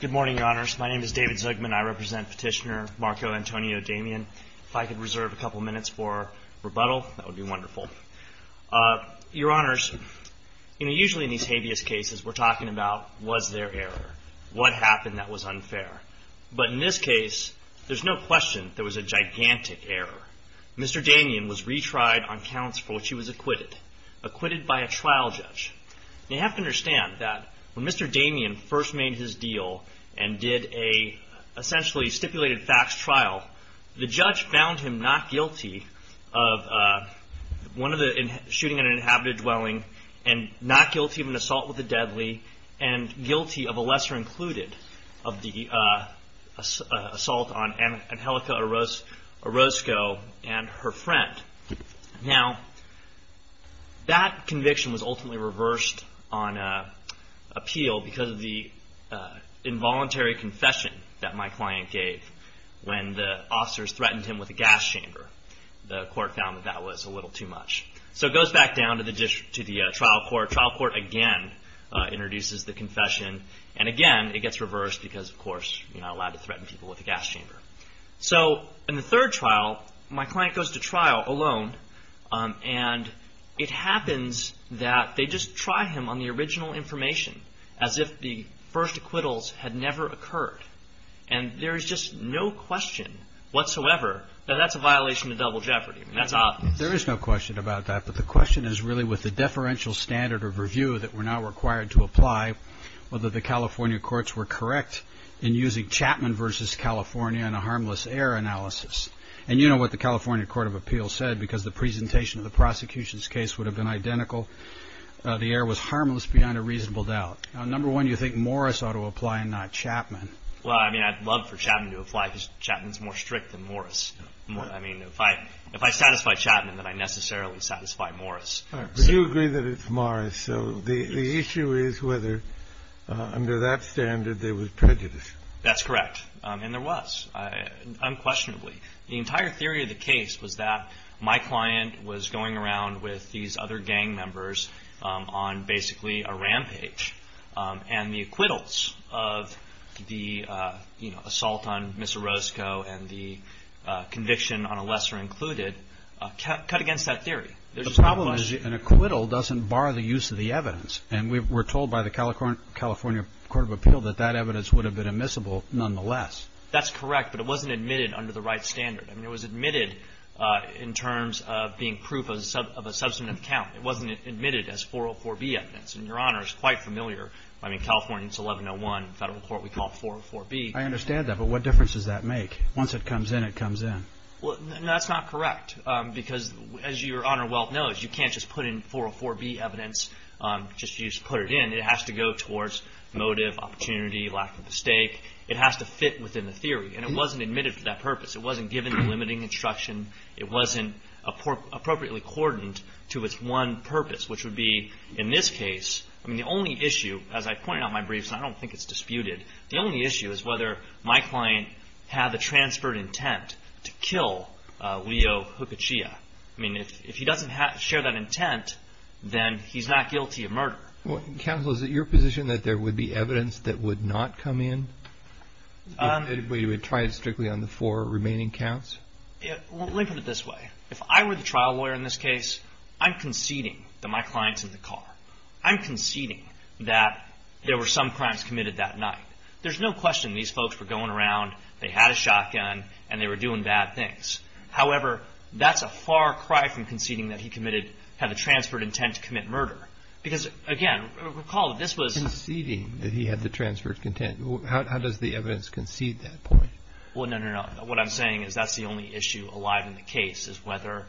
Good morning, Your Honors. My name is David Zugman. I represent Petitioner Marco Antonio Damian. If I could reserve a couple minutes for rebuttal, that would be wonderful. Your Honors, usually in these habeas cases, we're talking about was there error? What happened that was unfair? But in this case, there's no question there was a gigantic error. Mr. Damian was retried on counts for which he was acquitted, acquitted by a trial judge. You have to understand that when Mr. Damian first made his deal and did a essentially stipulated facts trial, the judge found him not guilty of one of the shooting at an inhabited dwelling and not guilty of an assault with the deadly and guilty of a lesser included of the assault on Angelica Orozco and her friend. Now, that conviction was ultimately reversed on appeal because of the involuntary confession that my client gave when the officers threatened him with a gas chamber. The court found that that was a little too much. So it goes back down to the trial court. Trial court again introduces the confession. And again, it gets reversed because, of course, you're not allowed to threaten people with a gas chamber. So in the third trial, my client goes to trial alone. And it happens that they just try him on the original information as if the first acquittals had never occurred. And there is just no question whatsoever that that's a violation of double jeopardy. That's obvious. There is no question about that. But the question is really with the deferential standard of review that we're now required to apply, whether the California courts were correct in using Chapman versus California in a harmless error analysis. And you know what the California Court of Appeals said because the presentation of the prosecution's case would have been identical. The error was harmless beyond a reasonable doubt. Number one, you think Morris ought to apply and not Chapman. Well, I mean, I'd love for Chapman to apply because Chapman's more strict than Morris. I mean, if I satisfy Chapman, then I necessarily satisfy Morris. All right. But you agree that it's Morris. So the issue is whether under that standard there was prejudice. That's correct. And there was, unquestionably. The entire theory of the case was that my client was going around with these other gang members on basically a rampage. And the acquittals of the, you know, assault on Mr. Roscoe and the conviction on a lesser included cut against that theory. The problem is an acquittal doesn't bar the use of the evidence. And we were told by the California Court of Appeal that that evidence would have been admissible nonetheless. That's correct. But it wasn't admitted under the right standard. I mean, it was admitted in terms of being proof of a substantive count. It wasn't admitted as 404B evidence. And, Your Honor, it's quite familiar. I mean, California, it's 1101. In federal court, we call it 404B. I understand that. But what difference does that make? Once it comes in, it comes in. Well, that's not correct. Because, as Your Honor Welk knows, you can't just put in 404B evidence. You just put it in. It has to go towards motive, opportunity, lack of a stake. It has to fit within the theory. And it wasn't admitted for that purpose. It wasn't given the limiting instruction. It wasn't appropriately cordoned to its one purpose, which would be in this case. I mean, the only issue, as I pointed out in my briefs, and I don't think it's disputed, the only issue is whether my client had the transferred intent to kill Leo Hookachia. I mean, if he doesn't share that intent, then he's not guilty of murder. Counsel, is it your position that there would be evidence that would not come in? We would try it strictly on the four remaining counts? Let me put it this way. If I were the trial lawyer in this case, I'm conceding that my client's in the car. I'm conceding that there were some crimes committed that night. There's no question these folks were going around, they had a shotgun, and they were doing bad things. However, that's a far cry from conceding that he had the transferred intent to commit murder. Because, again, recall that this was – Conceding that he had the transferred intent. How does the evidence concede that point? Well, no, no, no. What I'm saying is that's the only issue alive in the case is whether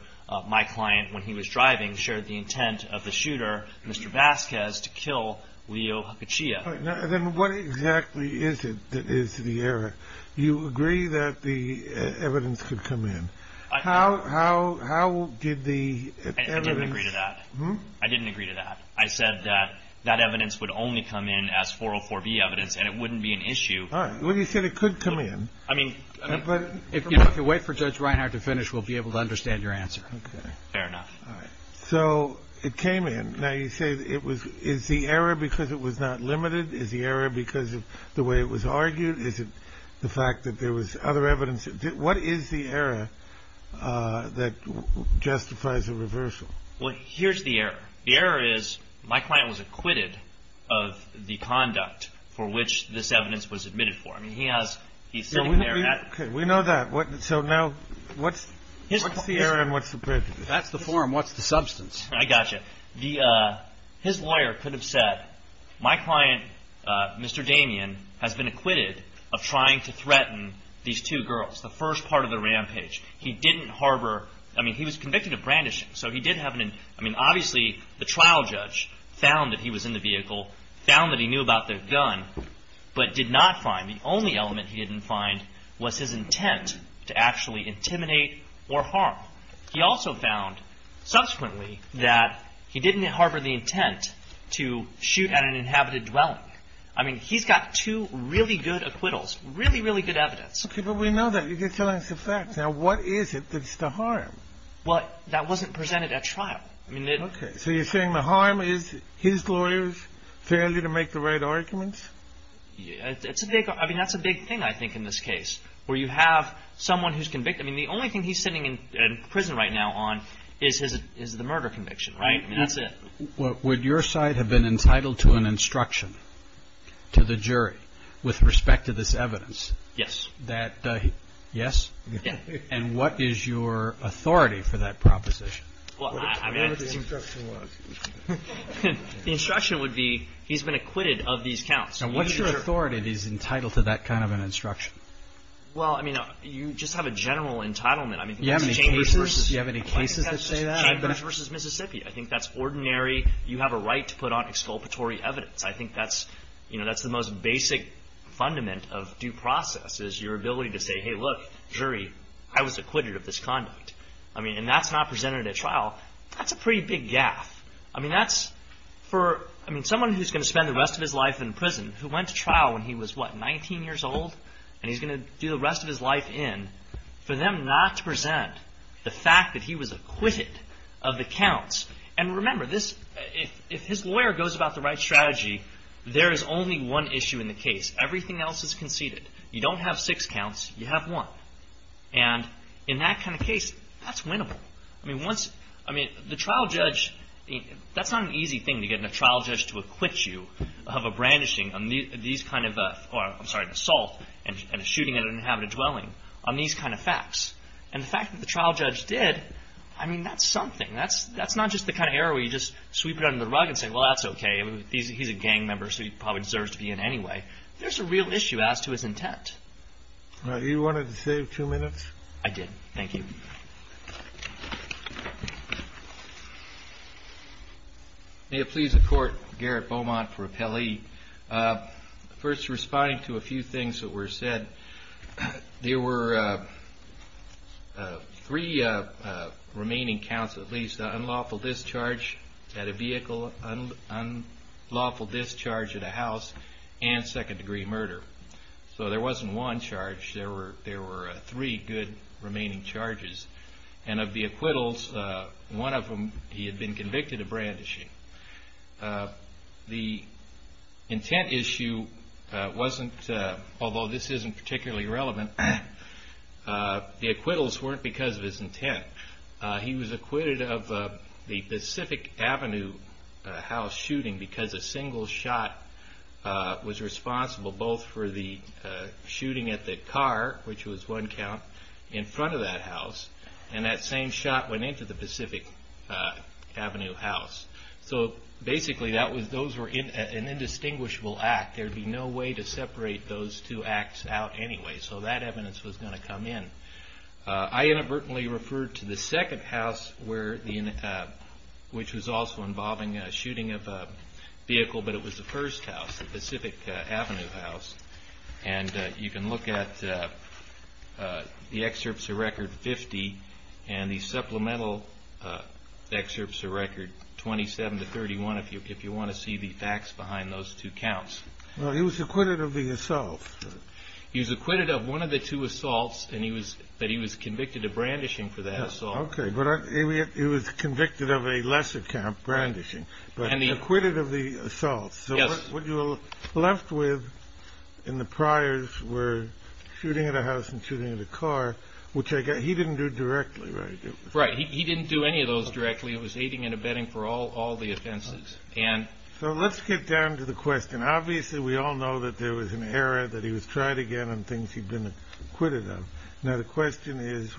my client, when he was driving, shared the intent of the shooter, Mr. Vasquez, to kill Leo Hakuchiya. Then what exactly is it that is the error? You agree that the evidence could come in. How did the evidence – I didn't agree to that. I didn't agree to that. I said that that evidence would only come in as 404B evidence, and it wouldn't be an issue. All right. Well, you said it could come in. I mean – If you wait for Judge Reinhart to finish, we'll be able to understand your answer. Okay. Fair enough. All right. So it came in. Now, you say it was – Is the error because it was not limited? Is the error because of the way it was argued? Is it the fact that there was other evidence? What is the error that justifies a reversal? Well, here's the error. The error is my client was acquitted of the conduct for which this evidence was admitted for. I mean, he has – he's sitting there – Okay. We know that. So now what's the error and what's the prejudice? That's the form. What's the substance? I got you. The – his lawyer could have said, my client, Mr. Damien, has been acquitted of trying to threaten these two girls, the first part of the rampage. He didn't harbor – I mean, he was convicted of brandishing, so he did have an – I mean, obviously, the trial judge found that he was in the vehicle, found that he knew about the gun, but did not find – the only element he didn't find was his intent to actually intimidate or harm. He also found, subsequently, that he didn't harbor the intent to shoot at an inhabited dwelling. I mean, he's got two really good acquittals, really, really good evidence. Okay. But we know that. You're telling us the facts. Now, what is it that's the harm? Well, that wasn't presented at trial. I mean, it – Okay. So you're saying the harm is his lawyer's failure to make the right arguments? It's a big – I mean, that's a big thing, I think, in this case, where you have someone who's convicted. I mean, the only thing he's sitting in prison right now on is the murder conviction, right? I mean, that's it. Would your side have been entitled to an instruction to the jury with respect to this evidence? Yes. That – yes? Yes. And what is your authority for that proposition? Well, I mean – What would the instruction look? The instruction would be he's been acquitted of these counts. And what's your authority that he's entitled to that kind of an instruction? Well, I mean, you just have a general entitlement. I mean, that's Chambers versus – You have any cases that say that? Chambers versus Mississippi. I think that's ordinary. You have a right to put on exculpatory evidence. I think that's – you know, that's the most basic fundament of due process is your ability to say, hey, look, jury, I was acquitted of this conduct. I mean, and that's not presented at trial. That's a pretty big gaffe. I mean, that's for – I mean, someone who's going to spend the rest of his life in prison, who went to trial when he was, what, 19 years old, and he's going to do the rest of his life in, for them not to present the fact that he was acquitted of the counts. And remember, this – if his lawyer goes about the right strategy, there is only one issue in the case. Everything else is conceded. You don't have six counts. You have one. And in that kind of case, that's winnable. I mean, once – I mean, the trial judge – I mean, that's not an easy thing to get a trial judge to acquit you of a brandishing on these kind of – or, I'm sorry, an assault and a shooting at an inhabited dwelling on these kind of facts. And the fact that the trial judge did, I mean, that's something. That's not just the kind of error where you just sweep it under the rug and say, well, that's okay. He's a gang member, so he probably deserves to be in anyway. There's a real issue as to his intent. You wanted to save two minutes? I did. Thank you. May it please the Court, Garrett Beaumont for Appellee. First, responding to a few things that were said, there were three remaining counts, at least, an unlawful discharge at a vehicle, unlawful discharge at a house, and second-degree murder. So there wasn't one charge. There were three good remaining charges. And of the acquittals, one of them, he had been convicted of brandishing. The intent issue wasn't – although this isn't particularly relevant, the acquittals weren't because of his intent. He was acquitted of the Pacific Avenue house shooting because a single shot was responsible both for the shooting at the car, which was one count, in front of that house, and that same shot went into the Pacific Avenue house. So basically, those were an indistinguishable act. There would be no way to separate those two acts out anyway, so that evidence was going to come in. I inadvertently referred to the second house, which was also involving a shooting of a vehicle, but it was the first house, the Pacific Avenue house. And you can look at the excerpts of Record 50 and the supplemental excerpts of Record 27 to 31 if you want to see the facts behind those two counts. Well, he was acquitted of the assault. He was acquitted of one of the two assaults, but he was convicted of brandishing for that assault. Okay, but he was convicted of a lesser count, brandishing, but acquitted of the assault. So what you're left with in the priors were shooting at a house and shooting at a car, which he didn't do directly, right? Right, he didn't do any of those directly. He was aiding and abetting for all the offenses. So let's get down to the question. Obviously, we all know that there was an error, that he was tried again on things he'd been acquitted of. Now, the question is,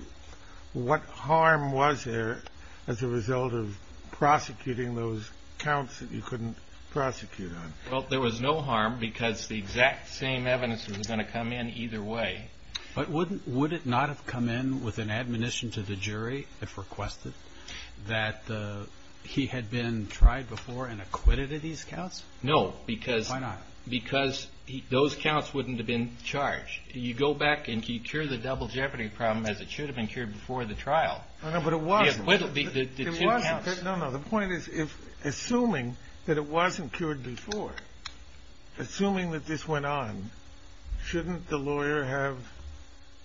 what harm was there as a result of prosecuting those counts that you couldn't prosecute on? Well, there was no harm because the exact same evidence was going to come in either way. But would it not have come in with an admonition to the jury, if requested, that he had been tried before and acquitted of these counts? No, because those counts wouldn't have been charged. You go back and you cure the double jeopardy problem as it should have been cured before the trial. No, but it wasn't. No, no, the point is, assuming that it wasn't cured before, assuming that this went on, shouldn't the lawyer have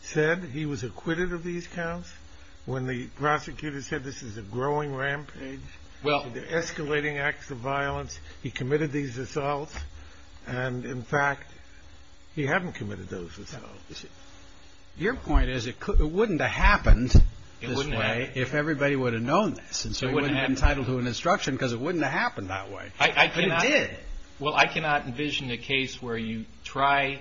said he was acquitted of these counts when the prosecutor said this is a growing rampage? The escalating acts of violence, he committed these assaults, and in fact, he hadn't committed those assaults. Your point is, it wouldn't have happened this way if everybody would have known this, and so he wouldn't have been entitled to an instruction because it wouldn't have happened that way. It did. Well, I cannot envision a case where you try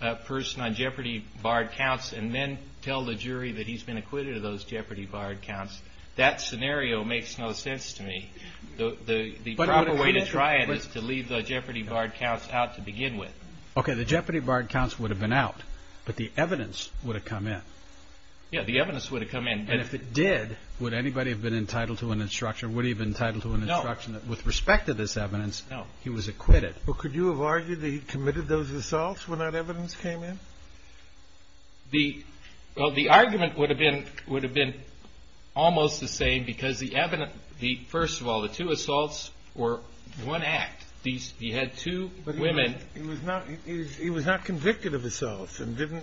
a person on jeopardy barred counts and then tell the jury that he's been acquitted of those jeopardy barred counts. That scenario makes no sense to me. The proper way to try it is to leave the jeopardy barred counts out to begin with. Okay, the jeopardy barred counts would have been out, but the evidence would have come in. Yeah, the evidence would have come in. And if it did, would anybody have been entitled to an instruction, would he have been entitled to an instruction? No. With respect to this evidence, he was acquitted. Well, could you have argued that he committed those assaults when that evidence came in? Well, the argument would have been almost the same because the first of all, the two assaults were one act. He had two women. But he was not convicted of assaults. Did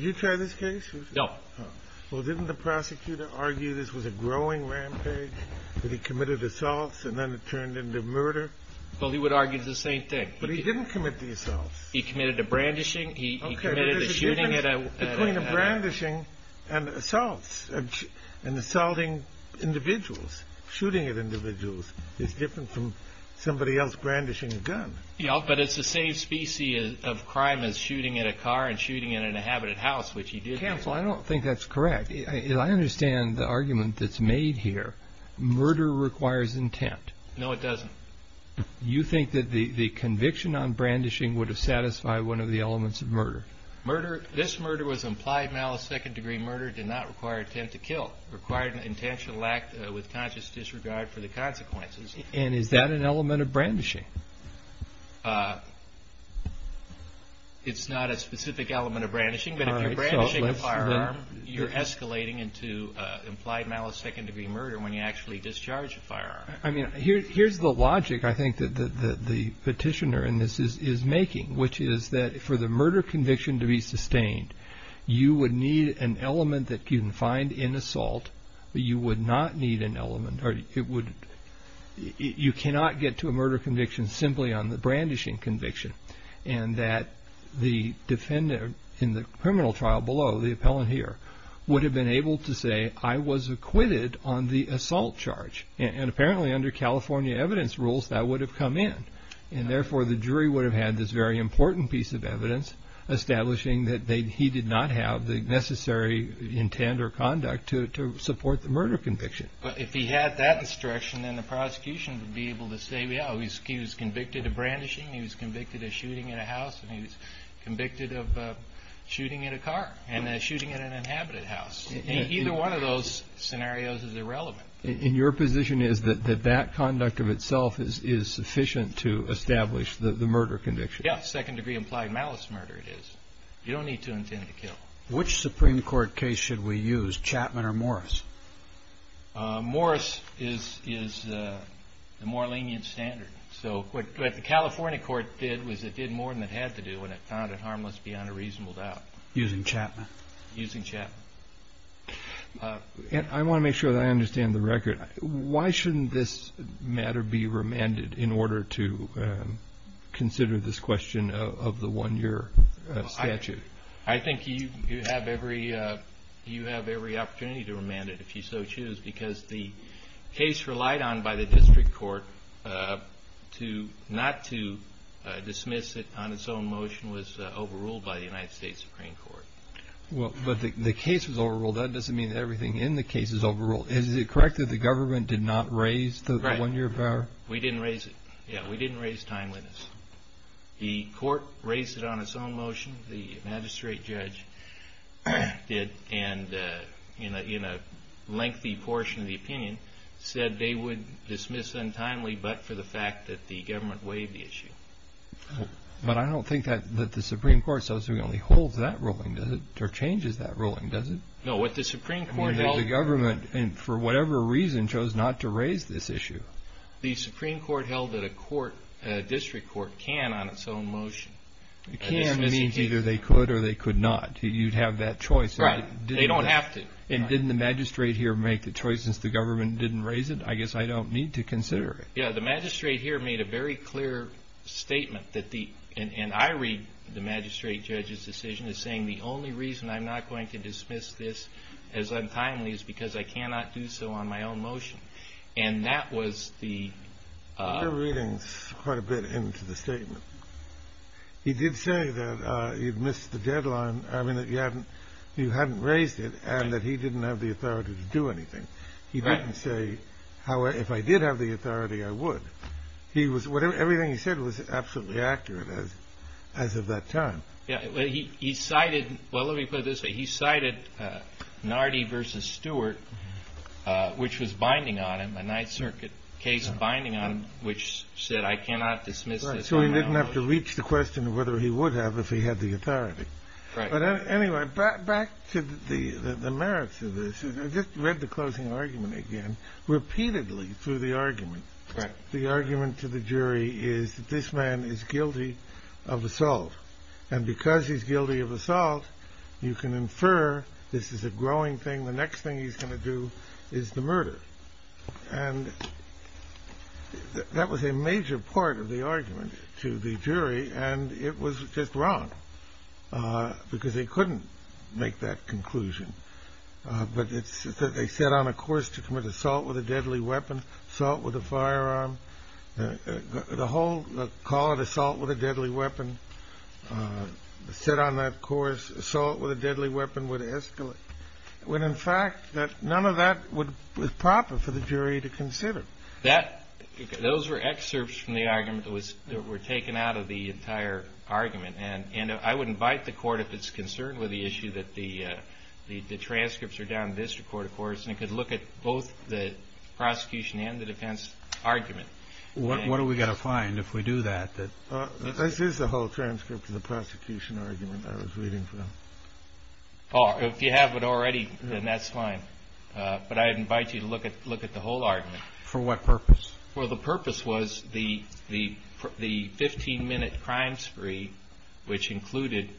you try this case? No. Well, didn't the prosecutor argue this was a growing rampage, that he committed assaults and then it turned into murder? Well, he would argue the same thing. But he didn't commit the assaults. He committed a brandishing. He committed a shooting. Okay, but there's a difference between a brandishing and assaults and assaulting individuals. Shooting at individuals is different from somebody else brandishing a gun. Yeah, but it's the same species of crime as shooting at a car and shooting at an inhabited house, which he did do. Counsel, I don't think that's correct. I understand the argument that's made here. Murder requires intent. No, it doesn't. You think that the conviction on brandishing would have satisfied one of the elements of murder? Murder, this murder was implied malice, second-degree murder, did not require intent to kill. It required an intentional act with conscious disregard for the consequences. And is that an element of brandishing? It's not a specific element of brandishing, but if you're brandishing a firearm, you're escalating into implied malice, second-degree murder when you actually discharge a firearm. Here's the logic, I think, that the petitioner in this is making, which is that for the murder conviction to be sustained, you would need an element that you can find in assault. You would not need an element. You cannot get to a murder conviction simply on the brandishing conviction, and that the defendant in the criminal trial below, the appellant here, would have been able to say, I was acquitted on the assault charge. And apparently under California evidence rules, that would have come in, and therefore the jury would have had this very important piece of evidence establishing that he did not have the necessary intent or conduct to support the murder conviction. But if he had that instruction, then the prosecution would be able to say, yeah, he was convicted of brandishing, he was convicted of shooting at a house, and he was convicted of shooting at a car and shooting at an inhabited house. Either one of those scenarios is irrelevant. And your position is that that conduct of itself is sufficient to establish the murder conviction? Yes. Second degree implied malice murder it is. You don't need to intend to kill. Which Supreme Court case should we use, Chapman or Morris? Morris is the more lenient standard. So what the California court did was it did more than it had to do, and it found it harmless beyond a reasonable doubt. Using Chapman? Using Chapman. I want to make sure that I understand the record. Why shouldn't this matter be remanded in order to consider this question of the one-year statute? I think you have every opportunity to remand it if you so choose, because the case relied on by the district court not to dismiss it on its own motion was overruled by the United States Supreme Court. Well, but the case was overruled. That doesn't mean that everything in the case is overruled. Is it correct that the government did not raise the one-year power? Right. We didn't raise it. Yeah, we didn't raise timeliness. The court raised it on its own motion, the magistrate judge did, and in a lengthy portion of the opinion said they would dismiss untimely but for the fact that the government waived the issue. But I don't think that the Supreme Court subsequently holds that ruling, does it, or changes that ruling, does it? No, what the Supreme Court held. The government, for whatever reason, chose not to raise this issue. The Supreme Court held that a district court can on its own motion dismiss it. Can means either they could or they could not. You'd have that choice. Right. They don't have to. And didn't the magistrate here make the choice since the government didn't raise it? I guess I don't need to consider it. Yeah, the magistrate here made a very clear statement that the and I read the magistrate judge's decision as saying the only reason I'm not going to dismiss this as untimely is because I cannot do so on my own motion. And that was the You're reading quite a bit into the statement. He did say that you'd missed the deadline, I mean, that you hadn't raised it and that he didn't have the authority to do anything. He didn't say, if I did have the authority, I would. Everything he said was absolutely accurate as of that time. He cited, well, let me put it this way. He cited Nardi v. Stewart, which was binding on him, a Ninth Circuit case binding on him, which said I cannot dismiss this on my own motion. So he didn't have to reach the question of whether he would have if he had the authority. But anyway, back to the merits of this. I just read the closing argument again. Repeatedly through the argument, the argument to the jury is that this man is guilty of assault. And because he's guilty of assault, you can infer this is a growing thing. The next thing he's going to do is the murder. And that was a major part of the argument to the jury. And it was just wrong because they couldn't make that conclusion. But they set on a course to commit assault with a deadly weapon, assault with a firearm. The whole call it assault with a deadly weapon, set on that course, assault with a deadly weapon would escalate. When, in fact, none of that was proper for the jury to consider. Those were excerpts from the argument that were taken out of the entire argument. And I would invite the Court, if it's concerned with the issue, that the transcripts are down to the District Court, of course. And it could look at both the prosecution and the defense argument. What are we going to find if we do that? This is the whole transcript of the prosecution argument I was reading from. Oh, if you have it already, then that's fine. But I invite you to look at the whole argument. For what purpose? Well, the purpose was the 15-minute crime spree, which included,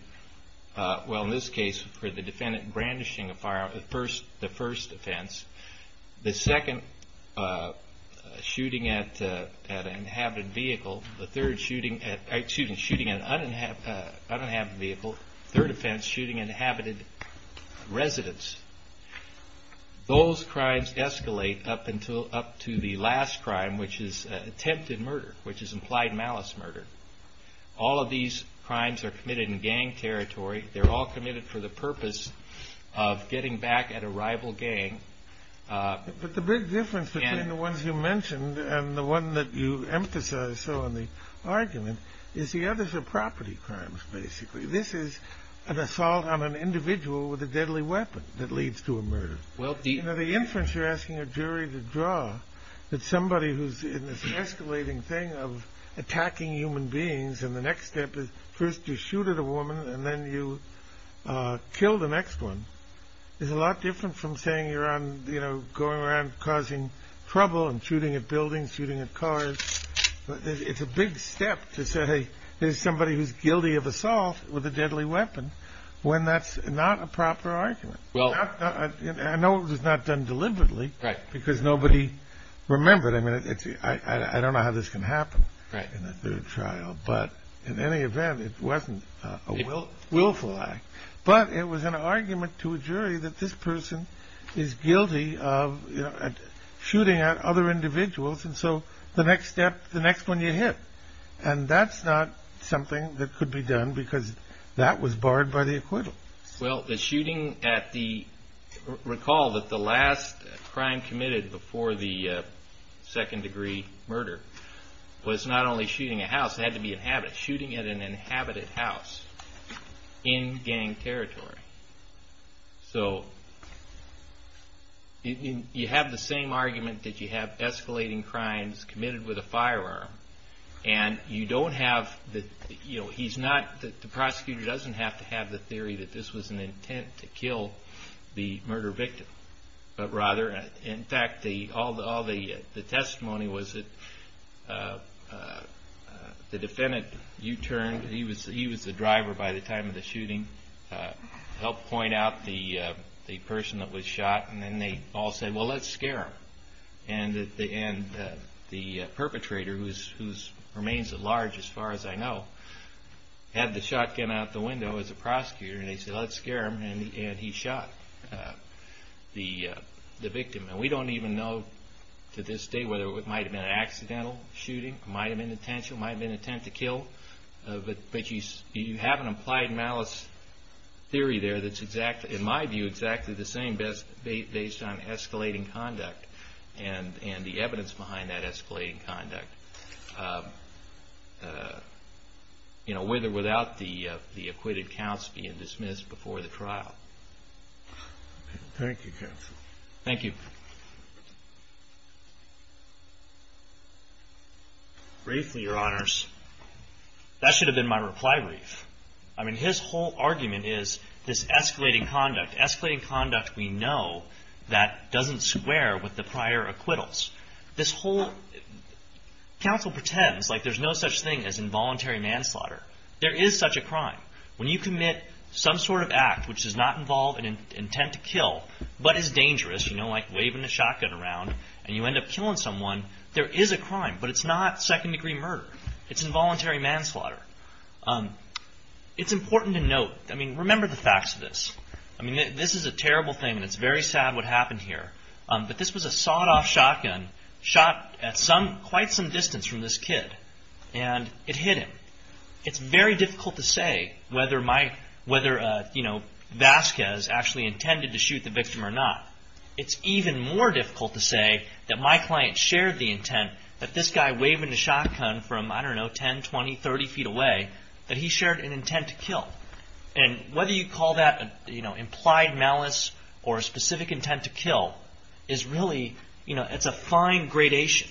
well, in this case, for the defendant brandishing a firearm, the first offense. The second, shooting at an inhabited vehicle. The third, shooting an uninhabited vehicle. Third offense, shooting inhabited residents. Those crimes escalate up to the last crime, which is attempted murder, which is implied malice murder. All of these crimes are committed in gang territory. They're all committed for the purpose of getting back at a rival gang. But the big difference between the ones you mentioned and the one that you emphasized so in the argument is the others are property crimes, basically. This is an assault on an individual with a deadly weapon that leads to a murder. Well, the inference you're asking a jury to draw that somebody who's in this escalating thing of attacking human beings and the next step is first you shoot at a woman and then you kill the next one is a lot different from saying you're on, you know, going around causing trouble and shooting at buildings, shooting at cars. It's a big step to say there's somebody who's guilty of assault with a deadly weapon when that's not a proper argument. Well, I know it was not done deliberately because nobody remembered. I mean, I don't know how this can happen in a trial, but in any event, it wasn't a willful act. But it was an argument to a jury that this person is guilty of shooting at other individuals. And so the next step, the next one you hit. And that's not something that could be done because that was barred by the acquittal. Well, the shooting at the, recall that the last crime committed before the second degree murder was not only shooting a house, it had to be inhabited, shooting at an inhabited house in gang territory. So you have the same argument that you have escalating crimes committed with a firearm. And you don't have, you know, he's not, the prosecutor doesn't have to have the theory that this was an intent to kill the murder victim. But rather, in fact, all the testimony was that the defendant U-turned, he was the driver by the time of the shooting, helped point out the person that was shot. And then they all said, well, let's scare him. And the perpetrator, who remains at large as far as I know, had the shotgun out the window as a prosecutor. And they said, let's scare him. And he shot the victim. And we don't even know to this day whether it might have been an accidental shooting, might have been intentional, might have been intent to kill. But you have an implied malice theory there that's exactly, in my view, exactly the same based on escalating conduct and the evidence behind that escalating conduct. And, you know, with or without the acquitted counts being dismissed before the trial. Thank you, counsel. Briefly, Your Honors, that should have been my reply brief. I mean, his whole argument is this escalating conduct, escalating conduct we know that doesn't square with the prior acquittals. This whole, counsel pretends like there's no such thing as involuntary manslaughter. There is such a crime. When you commit some sort of act which does not involve an intent to kill, but is dangerous, you know, like waving a shotgun around and you end up killing someone, there is a crime. But it's not second degree murder. It's involuntary manslaughter. It's important to note, I mean, remember the facts of this. I mean, this is a terrible thing. And it's very sad what happened here. But this was a sawed-off shotgun shot at quite some distance from this kid. And it hit him. It's very difficult to say whether Vasquez actually intended to shoot the victim or not. It's even more difficult to say that my client shared the intent that this guy waving a shotgun from, I don't know, 10, 20, 30 feet away, that he shared an intent to kill. And whether you call that, you know, implied malice or a specific intent to kill is really, you know, it's a fine gradation.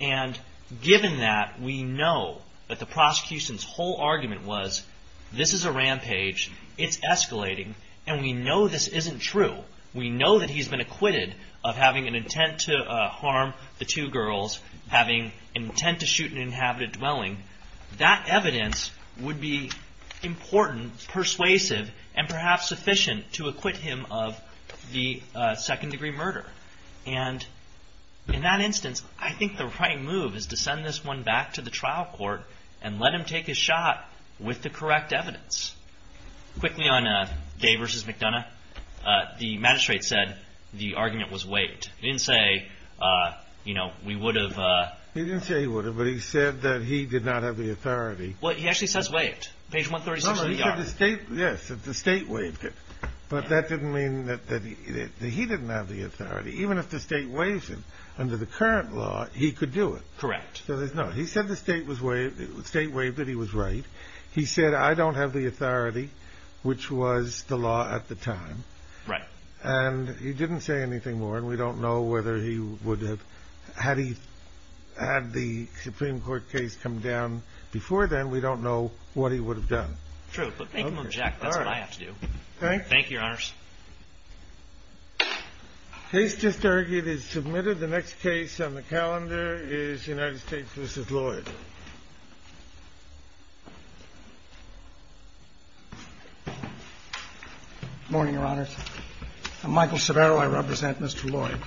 And given that, we know that the prosecution's whole argument was, this is a rampage. It's escalating. And we know this isn't true. We know that he's been acquitted of having an intent to harm the two girls, having intent to shoot an inhabited dwelling. That evidence would be important, persuasive, and perhaps sufficient to acquit him of the second-degree murder. And in that instance, I think the right move is to send this one back to the trial court and let him take a shot with the correct evidence. Quickly on Dave versus McDonough, the magistrate said the argument was waived. He didn't say, you know, we would have. He didn't say he would have, but he said that he did not have the authority. Well, he actually says waived. Page 136 of the yard. No, he said the state, yes, that the state waived it. But that didn't mean that he didn't have the authority. Even if the state waives it under the current law, he could do it. Correct. So there's no, he said the state waived it, he was right. He said, I don't have the authority, which was the law at the time. Right. And he didn't say anything more. And we don't know whether he would have had he had the Supreme Court case come down before then. We don't know what he would have done. True. But make him object. That's what I have to do. Thank you. Thank you, Your Honors. Case just argued is submitted. The next case on the calendar is United States versus Lloyd. Good morning, Your Honors. I'm Michael Severo. I represent Mr. Lloyd.